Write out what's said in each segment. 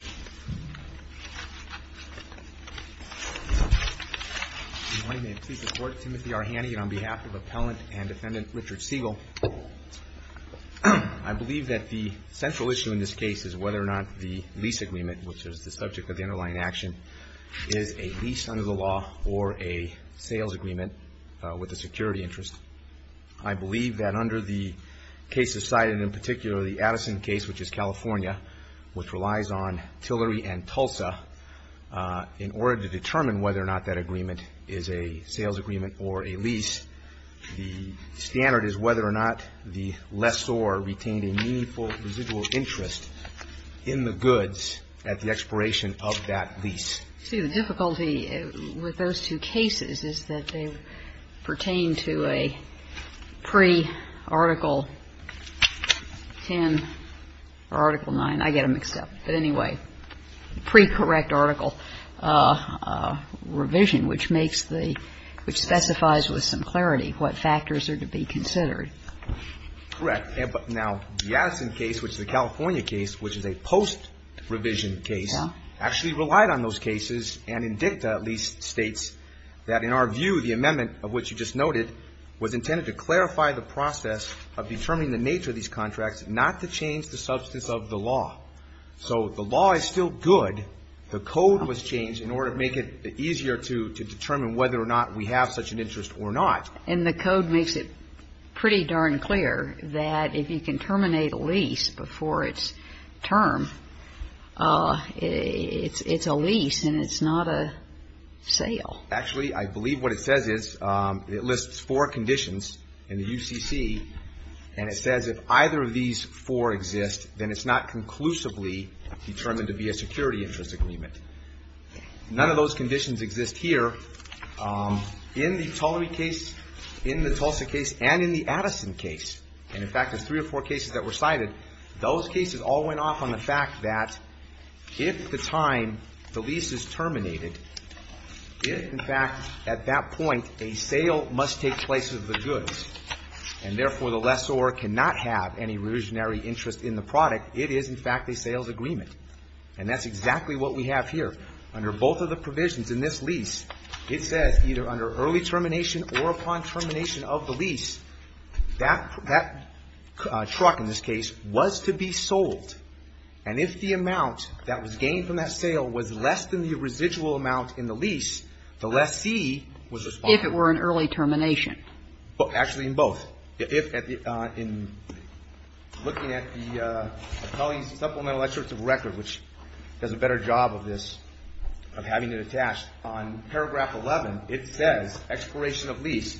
Good morning. May it please the court, Timothy Arhanian on behalf of Appellant and Defendant Richard Segal. I believe that the central issue in this case is whether or not the lease agreement, which is the subject of the underlying action, is a lease under the law or a sales agreement with a security interest. I believe that under the cases cited, in particular the Addison case, which is California, which relies on Tillery and Tulsa, in order to determine whether or not that agreement is a sales agreement or a lease, the standard is whether or not the lessor retained a meaningful residual interest in the goods at the expiration of that lease. See, the difficulty with those two cases is that they pertain to a pre-Article 10 or Article 9. I get them mixed up. But anyway, pre-correct article revision, which makes the – which specifies with some clarity what factors are to be considered. Correct. Now, the Addison case, which is a California case, which is a post-revision case, actually relied on those cases, and in dicta, at least, states that, in our view, the amendment of which you just noted was intended to clarify the process of determining the nature of these contracts, not to change the substance of the law. So the law is still good. The code was changed in order to make it easier to determine whether or not we have such an interest or not. And the code makes it pretty darn clear that if you can terminate a lease before its term, it's a lease and it's not a sale. Actually, I believe what it says is – it lists four conditions in the UCC, and it says if either of these four exist, then it's not conclusively determined to be a security interest agreement. None of those conditions exist here. In the Tullary case, in the Tulsa case, and in the Addison case – and, in fact, there's three or four cited – those cases all went off on the fact that if, at the time the lease is terminated, if, in fact, at that point, a sale must take place of the goods, and therefore, the lessor cannot have any revisionary interest in the product, it is, in fact, a sales agreement. And that's exactly what we have here. Under both of the provisions in this lease, it says either under early termination or upon termination of the lease, that truck, in this case, was to be sold. And if the amount that was gained from that sale was less than the residual amount in the lease, the lessee was responsible. If it were an early termination. Actually, in both. If, in looking at the Tully's supplemental excerpts of record, which does a better job of this, of having it attached, on paragraph 11, it says expiration of lease,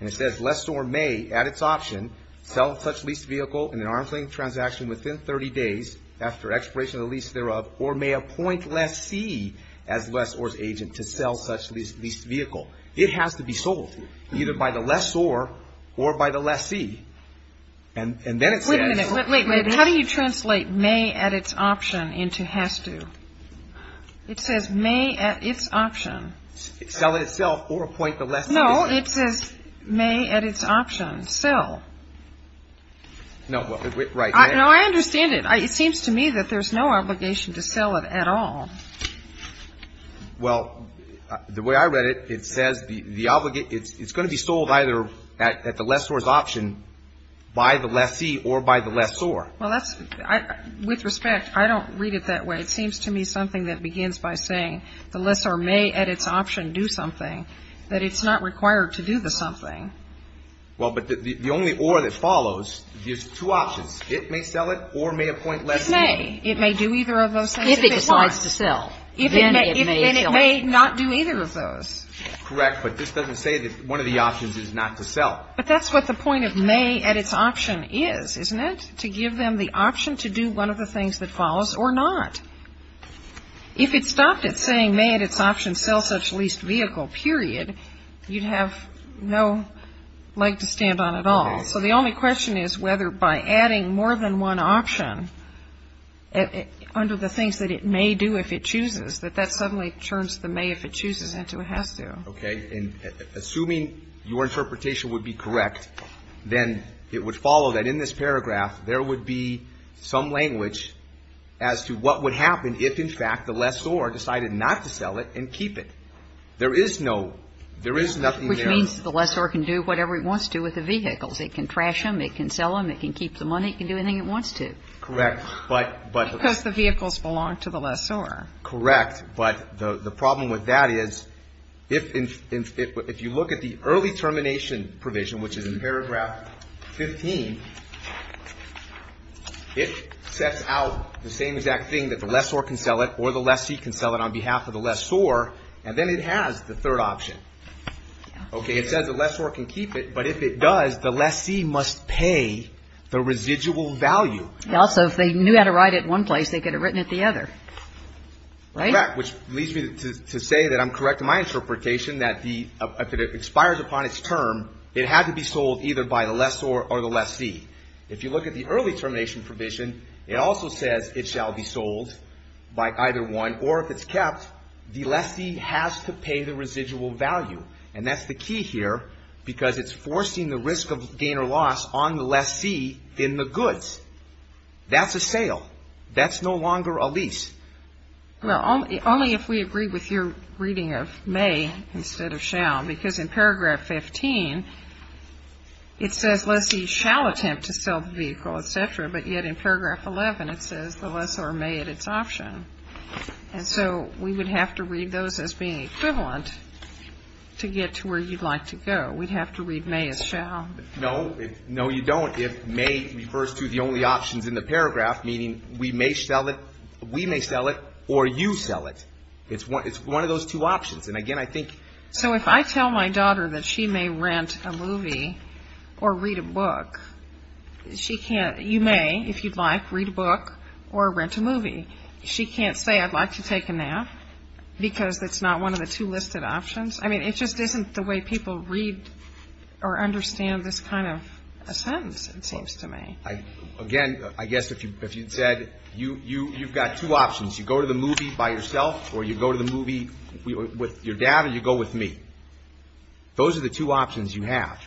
and it says lessor may, at its option, sell such leased vehicle in an arm's-length transaction within 30 days after expiration of the lease thereof, or may appoint lessee as lessor's agent to sell such leased vehicle. It has to be sold, either by the lessor or by the lessee. And then it says – Wait a minute. How do you translate may at its option into has to? It says may at its option. Sell it itself or appoint the lessee. No, it says may at its option. Sell. No, right. No, I understand it. It seems to me that there's no obligation to sell it at all. Well, the way I read it, it says the – it's going to be sold either at the lessor's option by the lessee or by the lessor. Well, that's – with respect, I don't read it that way. It seems to me something that may at its option do something, that it's not required to do the something. Well, but the only or that follows gives two options. It may sell it or may appoint lessee. It may. It may do either of those things. If it decides to sell, then it may sell it. Then it may not do either of those. Correct. But this doesn't say that one of the options is not to sell. But that's what the point of may at its option is, isn't it? To give them the option to do one of the things that follows or not. If it stopped at saying may at its option sell such leased vehicle, period, you'd have no leg to stand on at all. So the only question is whether by adding more than one option under the things that it may do if it chooses, that that suddenly turns the may if it chooses into a has to. Okay. And assuming your interpretation would be correct, then it would follow that in this paragraph, there would be some language as to what would happen if, in fact, the lessor decided not to sell it and keep it. There is no, there is nothing there. Which means the lessor can do whatever he wants to with the vehicles. It can trash them, it can sell them, it can keep the money, it can do anything it wants to. Correct. But, but. Because the vehicles belong to the lessor. Correct. But the problem with that is, if you look at the early termination provision, which is in paragraph 15, it sets out the same exact thing that the lessor can sell it or the lessee can sell it on behalf of the lessor. And then it has the third option. Okay. It says the lessor can keep it, but if it does, the lessee must pay the residual value. Also, if they knew how to write it in one place, they could have written it the other. Correct. Which leads me to say that I'm correct in my interpretation that the, if it expires upon its term, it had to be sold either by the lessor or the lessee. If you look at the early termination provision, it also says it shall be sold by either one, or if it's kept, the lessee has to pay the residual value. And that's the key here, because it's forcing the risk of gain or loss on the lessee in the goods. That's a sale. That's no longer a lease. Well, only if we agree with your reading of may instead of shall. Because in paragraph 15, it says lessee shall attempt to sell the vehicle, et cetera, but yet in paragraph 11, it says the lessor may at its option. And so we would have to read those as being equivalent to get to where you'd like to go. We'd have to read may as shall. No. No, you don't. If may refers to the only options in the paragraph, meaning we may sell it or you sell it. It's one of those two options. So if I tell my daughter that she may rent a movie or read a book, she can't. You may, if you'd like, read a book or rent a movie. She can't say I'd like to take a nap because it's not one of the two listed options. I mean, it just isn't the way people read or understand this kind of a sentence, it seems to me. Again, I guess if you said you've got two options, you go to the movie by yourself or you go to the movie with your dad or you go with me. Those are the two options you have.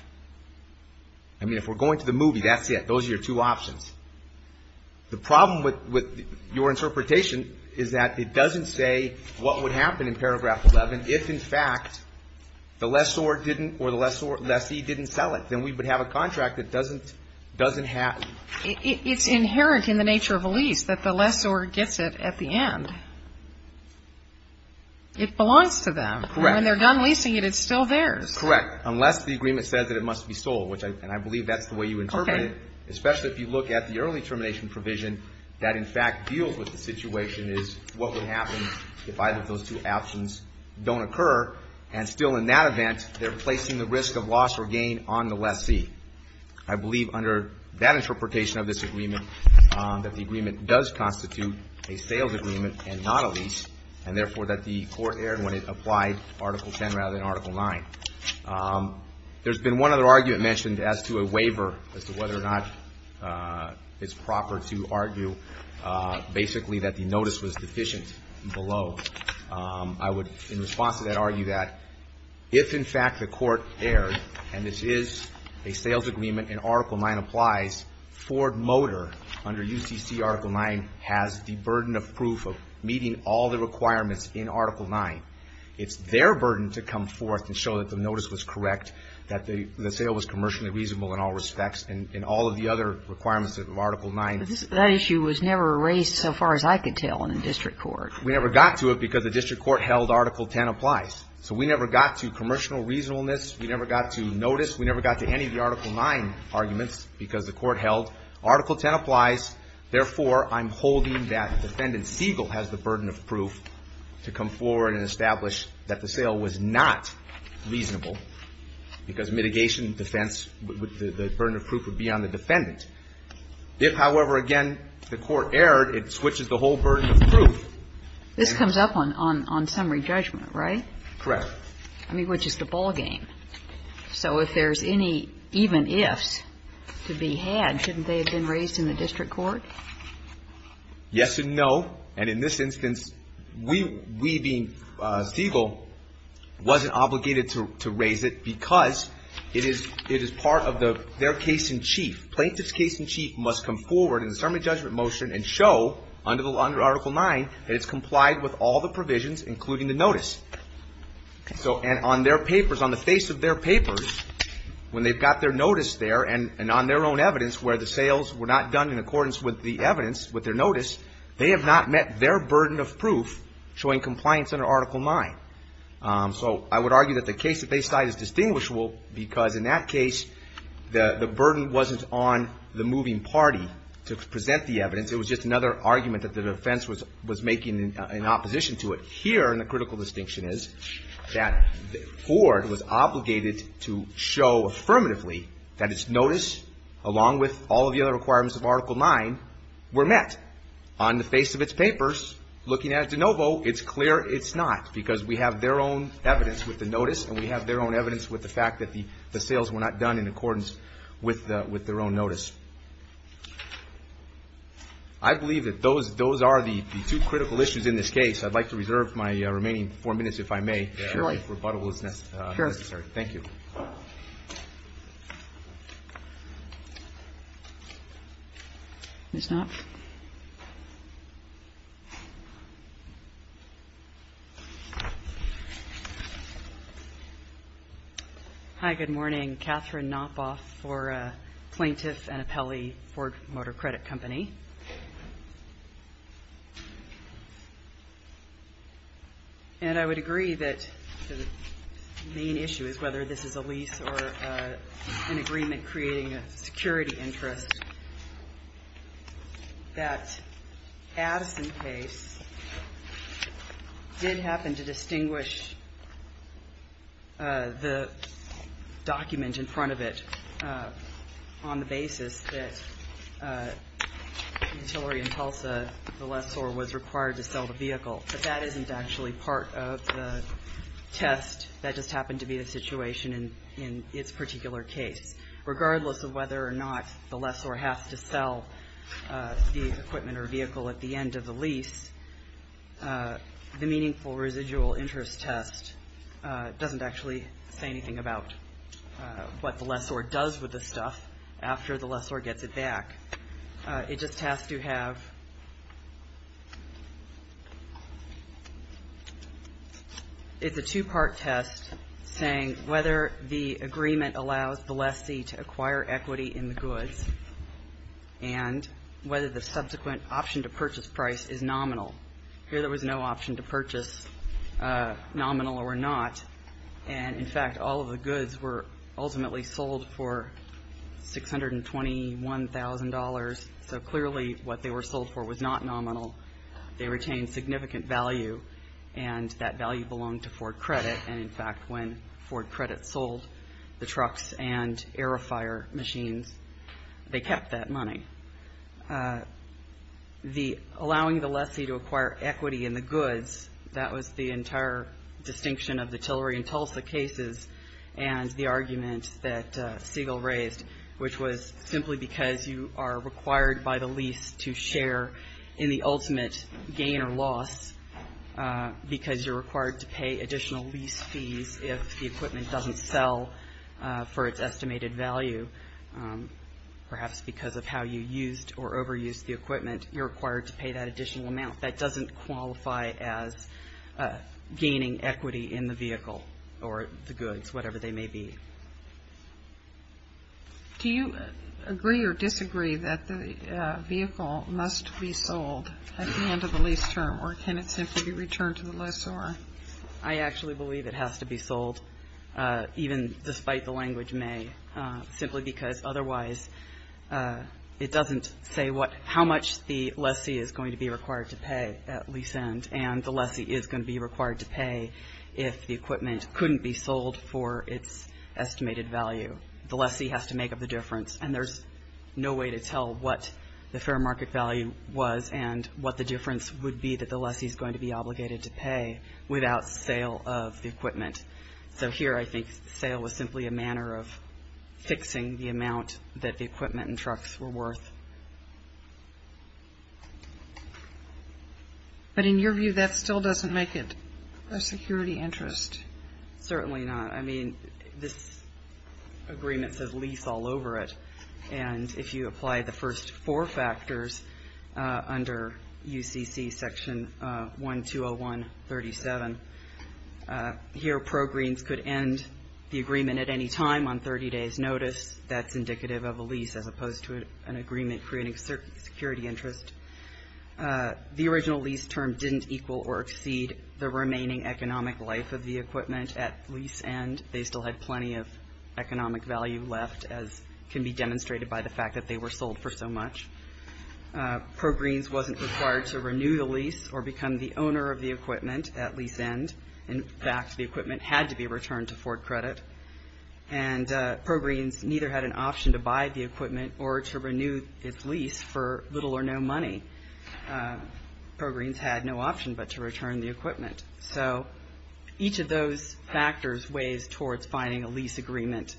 I mean, if we're going to the movie, that's it. Those are your two options. The problem with your interpretation is that it doesn't say what would happen in paragraph 11 if, in fact, the lessor didn't or the lessee didn't sell it. Then we would have a contract that doesn't have. It's inherent in the nature of a lease that the lessor gets it at the end. It belongs to them. Correct. When they're done leasing it, it's still theirs. Correct, unless the agreement says that it must be sold, and I believe that's the way you interpret it, especially if you look at the early termination provision that, in fact, deals with the situation is what would happen if either of those two options don't occur, and still in that event they're placing the risk of loss or gain on the lessee. I believe under that interpretation of this agreement that the agreement does constitute a sales agreement and not a lease, and therefore that the court erred when it applied Article 10 rather than Article 9. There's been one other argument mentioned as to a waiver as to whether or not it's proper to argue, basically, that the notice was deficient below. I would, in response to that, argue that if, in fact, the court erred, and this is a sales agreement and Article 9 applies, Ford Motor under UCC Article 9 has the burden of proof of meeting all the requirements in Article 9. It's their burden to come forth and show that the notice was correct, that the sale was commercially reasonable in all respects, and all of the other requirements of Article 9. But that issue was never raised so far as I could tell in the district court. We never got to it because the district court held Article 10 applies. So we never got to commercial reasonableness. We never got to notice. We never got to any of the Article 9 arguments because the court held Article 10 applies. Therefore, I'm holding that Defendant Siegel has the burden of proof to come forward and establish that the sale was not reasonable because mitigation and defense, the burden of proof would be on the defendant. If, however, again, the court erred, it switches the whole burden of proof. This comes up on summary judgment, right? Correct. I mean, which is the ballgame. So if there's any even ifs to be had, shouldn't they have been raised in the district court? Yes and no. And in this instance, we, being Siegel, wasn't obligated to raise it because it is part of their case in chief. Plaintiff's case in chief must come forward in the summary judgment motion and show under Article 9 that it's complied with all the provisions, including the notice. So on their papers, on the face of their papers, when they've got their notice there and on their own evidence where the sales were not done in accordance with the evidence, with their notice, they have not met their burden of proof showing compliance under Article 9. So I would argue that the case that they cite is distinguishable because in that case, the burden wasn't on the moving party to present the evidence. It was just another argument that the defense was making in opposition to it. Here, and the critical distinction is that Ford was obligated to show affirmatively that its notice, along with all of the other requirements of Article 9, were met. On the face of its papers, looking at de novo, it's clear it's not because we have their own evidence with the notice and we have their own evidence with the fact that the sales were not done in accordance with their own notice. I believe that those are the two critical issues in this case. I'd like to reserve my remaining four minutes, if I may, if rebuttal is necessary. Thank you. Ms. Knopf? Hi. Good morning. Katherine Knopf for Plaintiff and Appellee Ford Motor Credit Company. And I would agree that the main issue is whether this is a lease or an agreement creating a security interest, that Addison case did happen to distinguish the document in front of it on the basis that it was a lease. In the case of Utilitarian Tulsa, the lessor was required to sell the vehicle, but that isn't actually part of the test. That just happened to be the situation in its particular case. Regardless of whether or not the lessor has to sell the equipment or vehicle at the end of the lease, the meaningful residual interest test doesn't actually say anything about what the lessor does with the stuff after the lessor gets it back. It just has to have the two-part test saying whether the agreement allows the lessee to acquire equity in the goods and whether the subsequent option to purchase price is nominal. Here there was no option to purchase nominal or not. And, in fact, all of the goods were ultimately sold for $621,000. So clearly what they were sold for was not nominal. They retained significant value, and that value belonged to Ford Credit. And, in fact, when Ford Credit sold the trucks and Aerofire machines, they kept that money. Allowing the lessee to acquire equity in the goods, that was the entire distinction of the Tillery and Tulsa cases and the argument that Siegel raised, which was simply because you are required by the lease to share in the ultimate gain or loss because you're required to pay additional lease fees if the equipment doesn't sell for its estimated value, perhaps because of how you used or overused the equipment, you're required to pay that additional amount. That doesn't qualify as gaining equity in the vehicle or the goods, whatever they may be. Do you agree or disagree that the vehicle must be sold at the end of the lease term, or can it simply be returned to the lessor? I actually believe it has to be sold, even despite the language may, simply because otherwise it doesn't say how much the lessee is going to be required to pay at lease end, and the lessee is going to be required to pay if the equipment couldn't be sold for its estimated value. The lessee has to make up the difference, and there's no way to tell what the fair market value was and what the difference would be that the lessee is going to be obligated to pay without sale of the equipment. So here I think sale was simply a manner of fixing the amount that the equipment and trucks were worth. But in your view, that still doesn't make it a security interest. Certainly not. I mean, this agreement says lease all over it, and if you apply the first four factors under UCC Section 1201.37, here progreens could end the agreement at any time on 30 days' notice. That's indicative of a lease as opposed to an agreement creating security interest. The original lease term didn't equal or exceed the remaining economic life of the equipment at lease end. They still had plenty of economic value left, as can be demonstrated by the fact that they were sold for so much. Progreens wasn't required to renew the lease or become the owner of the equipment at lease end. In fact, the equipment had to be returned to Ford Credit, and progreens neither had an option to buy the equipment or to renew its lease for little or no money. Progreens had no option but to return the equipment. So each of those factors weighs towards finding a lease agreement,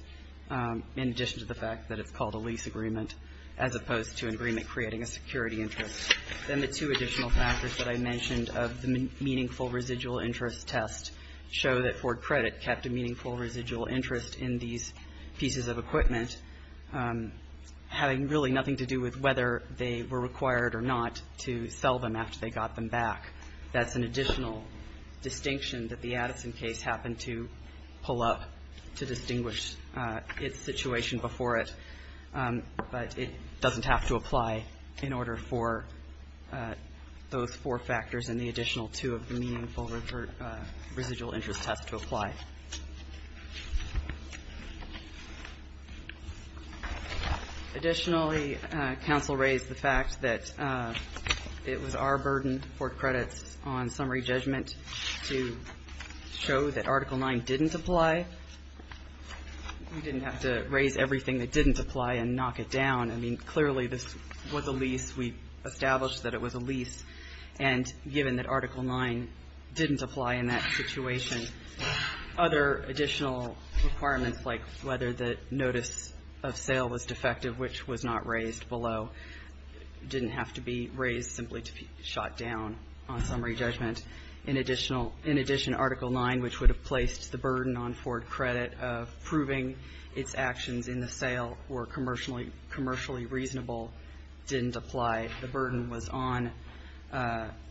in addition to the fact that it's called a lease agreement, as opposed to an agreement creating a security interest. Then the two additional factors that I mentioned of the meaningful residual interest test show that Ford Credit kept a meaningful residual interest in these pieces of equipment, having really nothing to do with whether they were required or not to sell them after they got them back. That's an additional distinction that the Addison case happened to pull up to distinguish its situation before it. But it doesn't have to apply in order for those four factors and the additional two of the meaningful residual interest test to apply. Additionally, counsel raised the fact that it was our burden to Ford Credit on summary judgment to show that Article 9 didn't apply. We didn't have to raise everything that didn't apply and knock it down. I mean, clearly this was a lease. We established that it was a lease. And given that Article 9 didn't apply in that situation, other additional requirements like whether the notice of sale was defective, which was not raised below, didn't have to be raised simply to be shot down on summary judgment. In addition, Article 9, which would have placed the burden on Ford Credit of proving its actions in the sale were commercially reasonable, didn't apply. The burden was on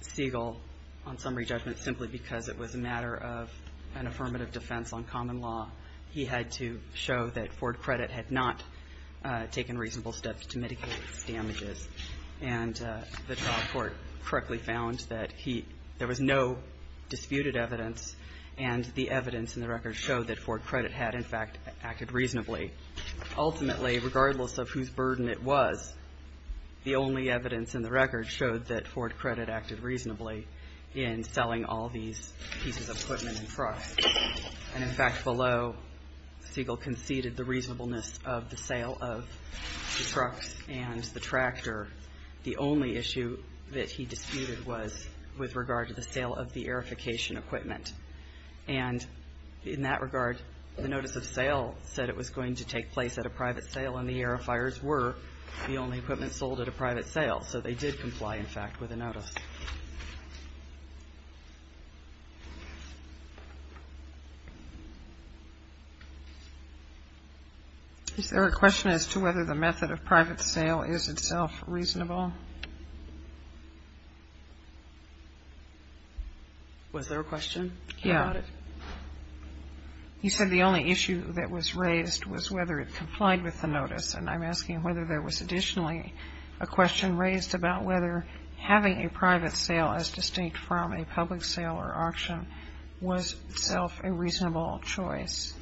Siegel on summary judgment simply because it was a matter of an affirmative defense on common law. He had to show that Ford Credit had not taken reasonable steps to mitigate its damages. And the trial court correctly found that there was no disputed evidence, and the evidence in the record showed that Ford Credit had, in fact, acted reasonably. Ultimately, regardless of whose burden it was, the only evidence in the record showed that Ford Credit acted reasonably in selling all these pieces of equipment and trucks. And, in fact, below, Siegel conceded the reasonableness of the sale of the trucks and the tractor. The only issue that he disputed was with regard to the sale of the verification equipment. And in that regard, the notice of sale said it was going to take place at a private sale, and the airifiers were the only equipment sold at a private sale. So they did comply, in fact, with the notice. Is there a question as to whether the method of private sale is itself reasonable? Was there a question about it? Yeah. You said the only issue that was raised was whether it complied with the notice. And I'm asking whether there was additionally a question raised about whether having a private sale as distinct from a public sale or auction was itself a reasonable choice.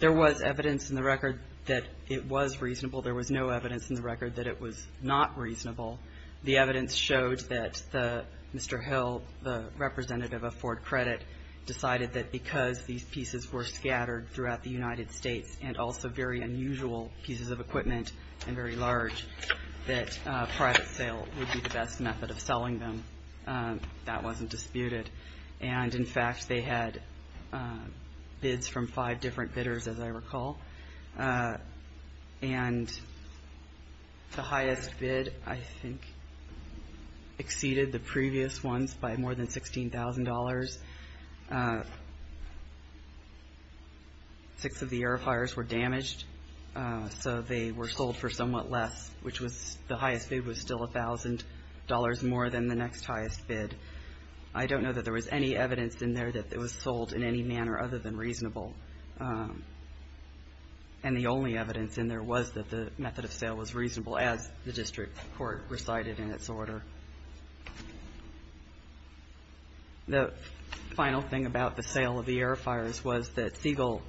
There was evidence in the record that it was reasonable. There was no evidence in the record that it was not reasonable. The evidence showed that Mr. Hill, the representative of Ford Credit, decided that because these pieces were scattered throughout the United States and also very unusual pieces of equipment and very large, that a private sale would be the best method of selling them. That wasn't disputed. And, in fact, they had bids from five different bidders, as I recall. And the highest bid, I think, exceeded the previous ones by more than $16,000. Six of the air flyers were damaged, so they were sold for somewhat less, which was the highest bid was still $1,000 more than the next highest bid. I don't know that there was any evidence in there that it was sold in any manner other than reasonable. And the only evidence in there was that the method of sale was reasonable, as the district court recited in its order. The final thing about the sale of the air flyers was that Siegel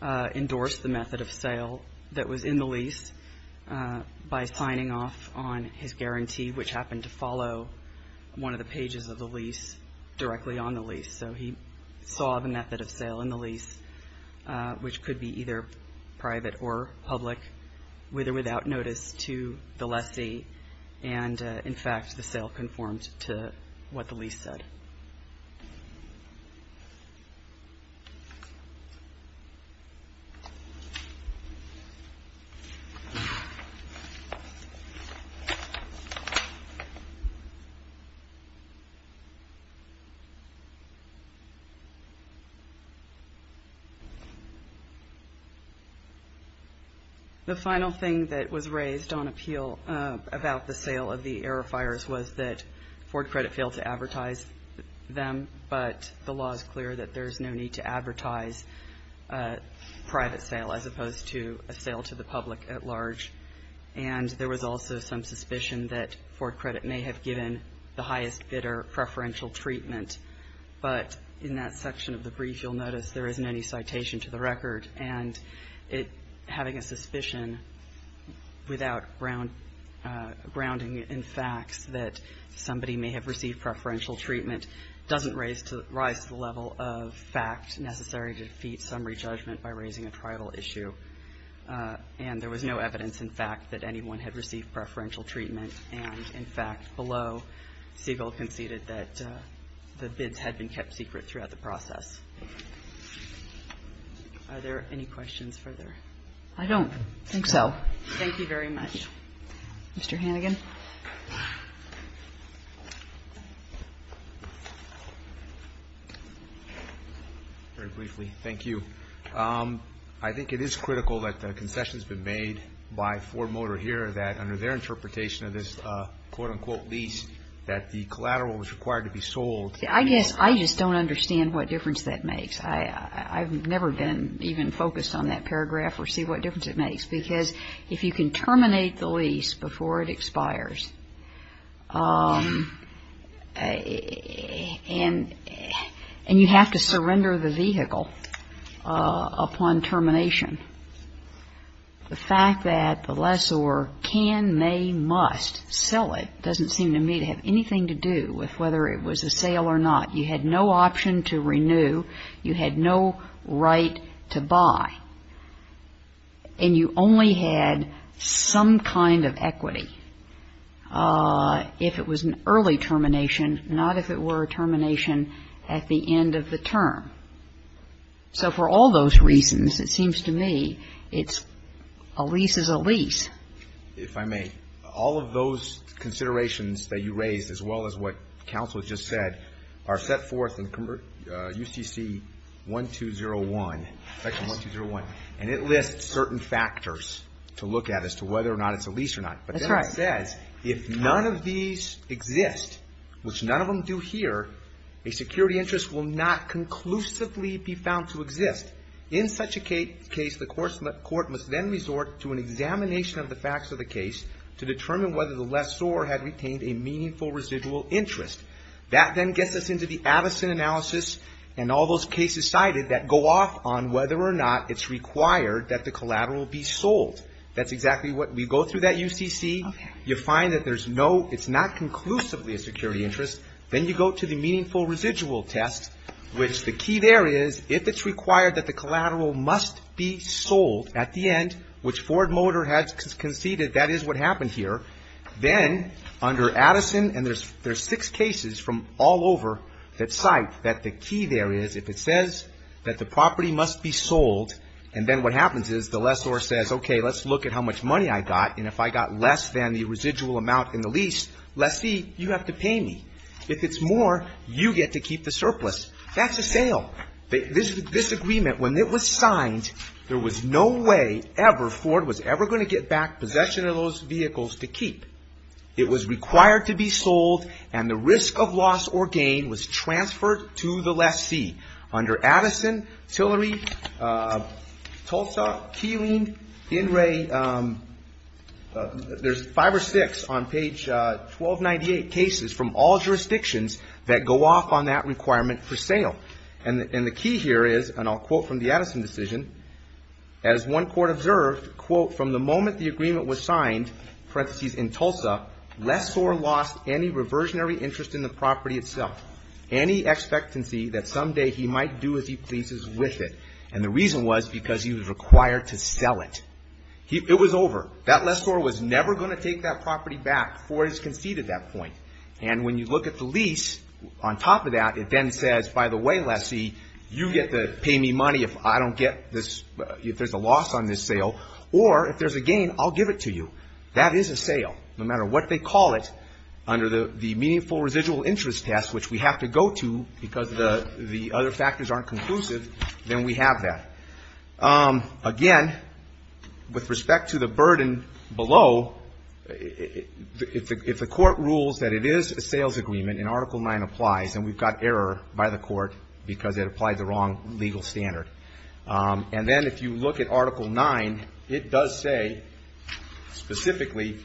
endorsed the method of sale that was in the lease by signing off on his guarantee, which happened to follow one of the pages of the lease directly on the lease. So he saw the method of sale in the lease, which could be either private or public, with or without notice to the lessee. And, in fact, the sale conformed to what the lease said. The final thing that was raised on appeal about the sale of the air flyers was that Ford Credit failed to advertise them, but the law is clear that there's no need to advertise a private sale as opposed to a sale to the public at large. And there was also some suspicion that Ford Credit may have given the highest bidder preferential treatment. But in that section of the brief, you'll notice there isn't any citation to the record. And having a suspicion without grounding it in facts that somebody may have received preferential treatment doesn't raise to the level of fact necessary to defeat summary judgment by raising a tribal issue. And there was no evidence, in fact, that anyone had received preferential treatment. And, in fact, below, Siegel conceded that the bids had been kept secret throughout the process. Are there any questions further? I don't think so. Thank you very much. Mr. Hannigan. Very briefly, thank you. I think it is critical that the concession has been made by Ford Motor here that, under their interpretation of this quote-unquote lease, that the collateral was required to be sold. I guess I just don't understand what difference that makes. I've never been even focused on that paragraph or see what difference it makes. Because if you can terminate the lease before it expires, and you have to surrender the vehicle upon termination, the fact that the lessor can, may, must sell it, doesn't seem to me to have anything to do with whether it was a sale or not. You had no option to renew. You had no right to buy. And you only had some kind of equity if it was an early termination, not if it were a termination at the end of the term. So for all those reasons, it seems to me it's a lease is a lease. If I may, all of those considerations that you raised, as well as what counsel just said, are set forth in UCC 1201, section 1201. And it lists certain factors to look at as to whether or not it's a lease or not. That's right. But then it says, if none of these exist, which none of them do here, a security interest will not conclusively be found to exist. In such a case, the court must then resort to an examination of the facts of the case to determine whether the lessor had retained a meaningful residual interest. That then gets us into the Addison analysis and all those cases cited that go off on whether or not it's required that the collateral be sold. That's exactly what we go through that UCC. You find that there's no, it's not conclusively a security interest. Then you go to the meaningful residual test, which the key there is, if it's required that the collateral must be sold at the end, which Ford Motor has conceded that is what happened here. Then under Addison, and there's six cases from all over that cite that the key there is, if it says that the property must be sold, and then what happens is the lessor says, okay, let's look at how much money I got, and if I got less than the residual amount in the lease, lessee, you have to pay me. If it's more, you get to keep the surplus. That's a sale. This agreement, when it was signed, there was no way ever Ford was ever going to get back possession of those vehicles to keep. It was required to be sold, and the risk of loss or gain was transferred to the lessee. Under Addison, Tillery, Tulsa, Keeling, In re, there's five or six on page 1298 cases from all jurisdictions that go off on that requirement for sale. And the key here is, and I'll quote from the Addison decision, as one court observed, quote, from the moment the agreement was signed, parentheses, in Tulsa, lessor lost any reversionary interest in the property itself. Any expectancy that someday he might do as he pleases with it. And the reason was because he was required to sell it. It was over. That lessor was never going to take that property back before he's conceded that point. And when you look at the lease, on top of that, it then says, by the way, lessee, you get to pay me money if I don't get this, if there's a loss on this sale, or if there's a gain, I'll give it to you. That is a sale, no matter what they call it. Under the meaningful residual interest test, which we have to go to because the other factors aren't conclusive, then we have that. Again, with respect to the burden below, if the court rules that it is a sales agreement, and Article 9 applies, and we've got error by the court because it applied the wrong legal standard. And then if you look at Article 9, it does say, specifically,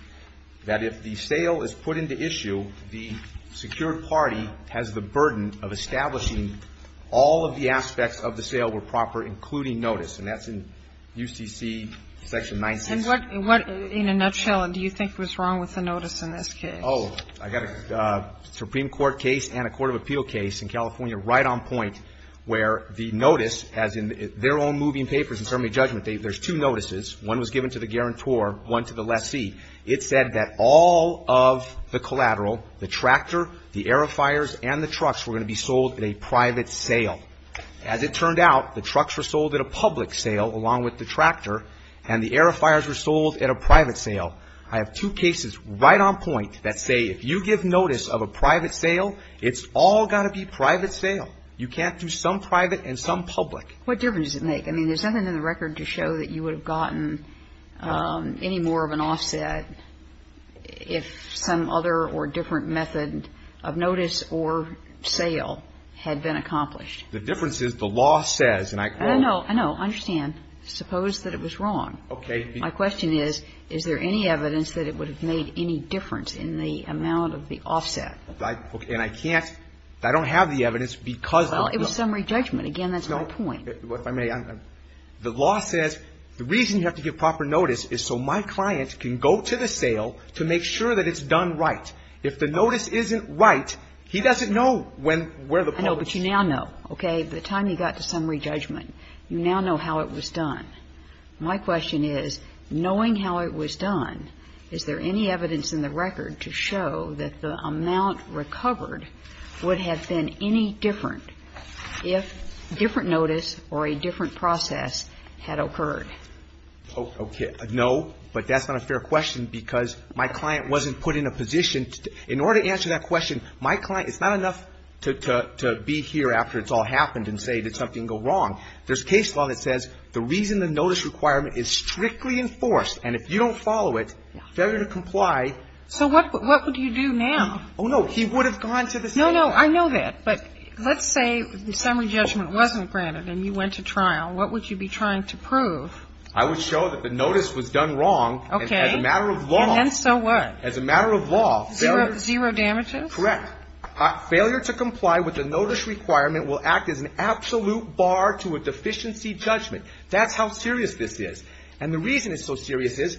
that if the sale is put into issue, the secured party has the burden of establishing all of the aspects of the sale were proper, including notice. And that's in UCC Section 19. And what, in a nutshell, do you think was wrong with the notice in this case? Oh, I've got a Supreme Court case and a court of appeal case in California right on point, where the notice, as in their own moving papers in certainly judgment, there's two notices. One was given to the guarantor, one to the lessee. It said that all of the collateral, the tractor, the airifiers, and the trucks were going to be sold at a private sale. As it turned out, the trucks were sold at a public sale along with the tractor, and the airifiers were sold at a private sale. I have two cases right on point that say if you give notice of a private sale, it's all got to be private sale. You can't do some private and some public. What difference does it make? I mean, there's nothing in the record to show that you would have gotten any more of an offset if some other or different method of notice or sale had been accomplished. The difference is the law says, and I quote. No, no. Understand. Suppose that it was wrong. Okay. My question is, is there any evidence that it would have made any difference in the amount of the offset? And I can't – I don't have the evidence because of the law. Well, it was summary judgment. Again, that's my point. If I may, I'm – the law says the reason you have to give proper notice is so my client can go to the sale to make sure that it's done right. If the notice isn't right, he doesn't know when – where the public is. I know, but you now know. Okay. By the time you got to summary judgment, you now know how it was done. My question is, knowing how it was done, is there any evidence in the record to show that the amount recovered would have been any different if different notice or a different process had occurred? Okay. No, but that's not a fair question because my client wasn't put in a position to – in order to answer that question, my client – it's not enough to be here after it's all happened and say did something go wrong. There's case law that says the reason the notice requirement is strictly enforced and if you don't follow it, failure to comply. So what would you do now? Oh, no. He would have gone to the sale. No, no. I know that. But let's say the summary judgment wasn't granted and you went to trial. What would you be trying to prove? I would show that the notice was done wrong. Okay. As a matter of law. And then so what? As a matter of law. Zero damages? Correct. Failure to comply with the notice requirement will act as an absolute bar to a deficiency judgment. That's how serious this is. And the reason it's so serious is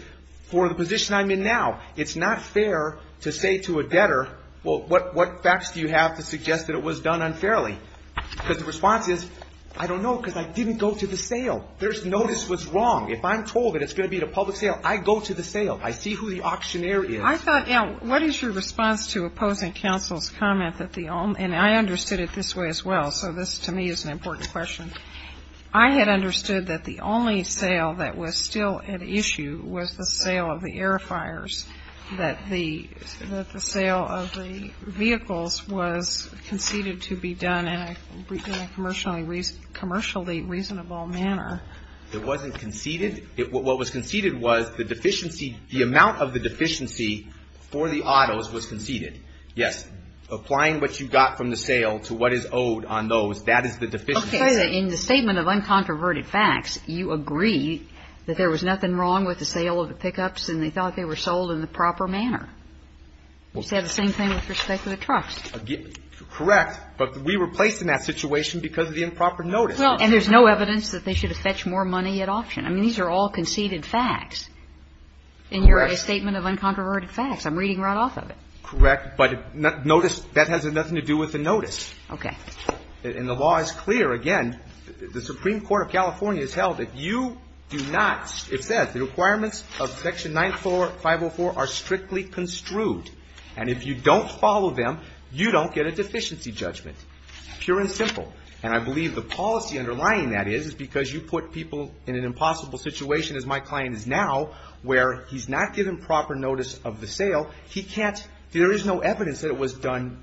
for the position I'm in now. It's not fair to say to a debtor, well, what facts do you have to suggest that it was done unfairly? Because the response is, I don't know because I didn't go to the sale. There's notice was wrong. If I'm told that it's going to be a public sale, I go to the sale. I see who the auctioneer is. I thought, you know, what is your response to opposing counsel's comment that the – and I understood it this way as well, so this to me is an important question. I had understood that the only sale that was still at issue was the sale of the air fires, that the sale of the vehicles was conceded to be done in a commercially reasonable manner. It wasn't conceded. What was conceded was the deficiency, the amount of the deficiency for the autos was conceded. Yes. Applying what you got from the sale to what is owed on those, that is the deficiency. Okay. In the statement of uncontroverted facts, you agree that there was nothing wrong with the sale of the pickups and they thought they were sold in the proper manner. You said the same thing with respect to the trucks. Correct. But we were placed in that situation because of the improper notice. Well, and there's no evidence that they should have fetched more money at auction. I mean, these are all conceded facts. Correct. In your statement of uncontroverted facts. I'm reading right off of it. Correct. But notice, that has nothing to do with the notice. Okay. And the law is clear. Again, the Supreme Court of California has held that you do not, it says, the requirements of Section 94504 are strictly construed. And if you don't follow them, you don't get a deficiency judgment. Pure and simple. And I believe the policy underlying that is, is because you put people in an impossible situation, as my client is now, where he's not given proper notice of the sale. He can't, there is no evidence that it was done,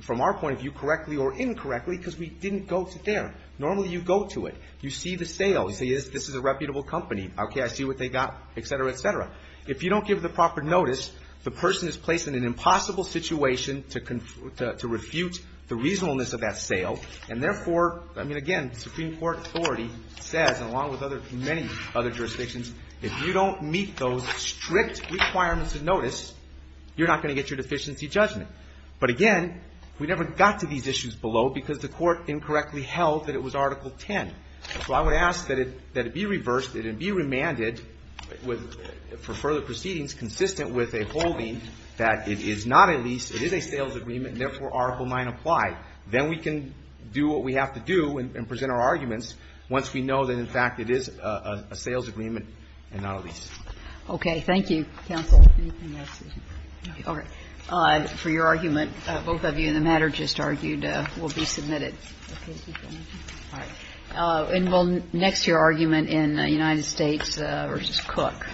from our point of view, correctly or incorrectly because we didn't go to there. Normally you go to it. You see the sale. You say, yes, this is a reputable company. Okay, I see what they got, et cetera, et cetera. If you don't give the proper notice, the person is placed in an impossible situation to refute the reasonableness of that sale. And therefore, I mean, again, Supreme Court authority says, along with many other jurisdictions, if you don't meet those strict requirements of notice, you're not going to get your deficiency judgment. But, again, we never got to these issues below because the court incorrectly held that it was Article 10. So I would ask that it be reversed and be remanded for further proceedings consistent with a holding that it is not a lease, it is a sales agreement, and therefore Article 9 applied. Then we can do what we have to do and present our arguments once we know that, in fact, it is a sales agreement and not a lease. Okay. Thank you, counsel. Anything else? No. Okay. For your argument, both of you in the matter just argued will be submitted. Okay. Thank you very much. All right. And we'll next hear argument in United States v. Cook. Thank you.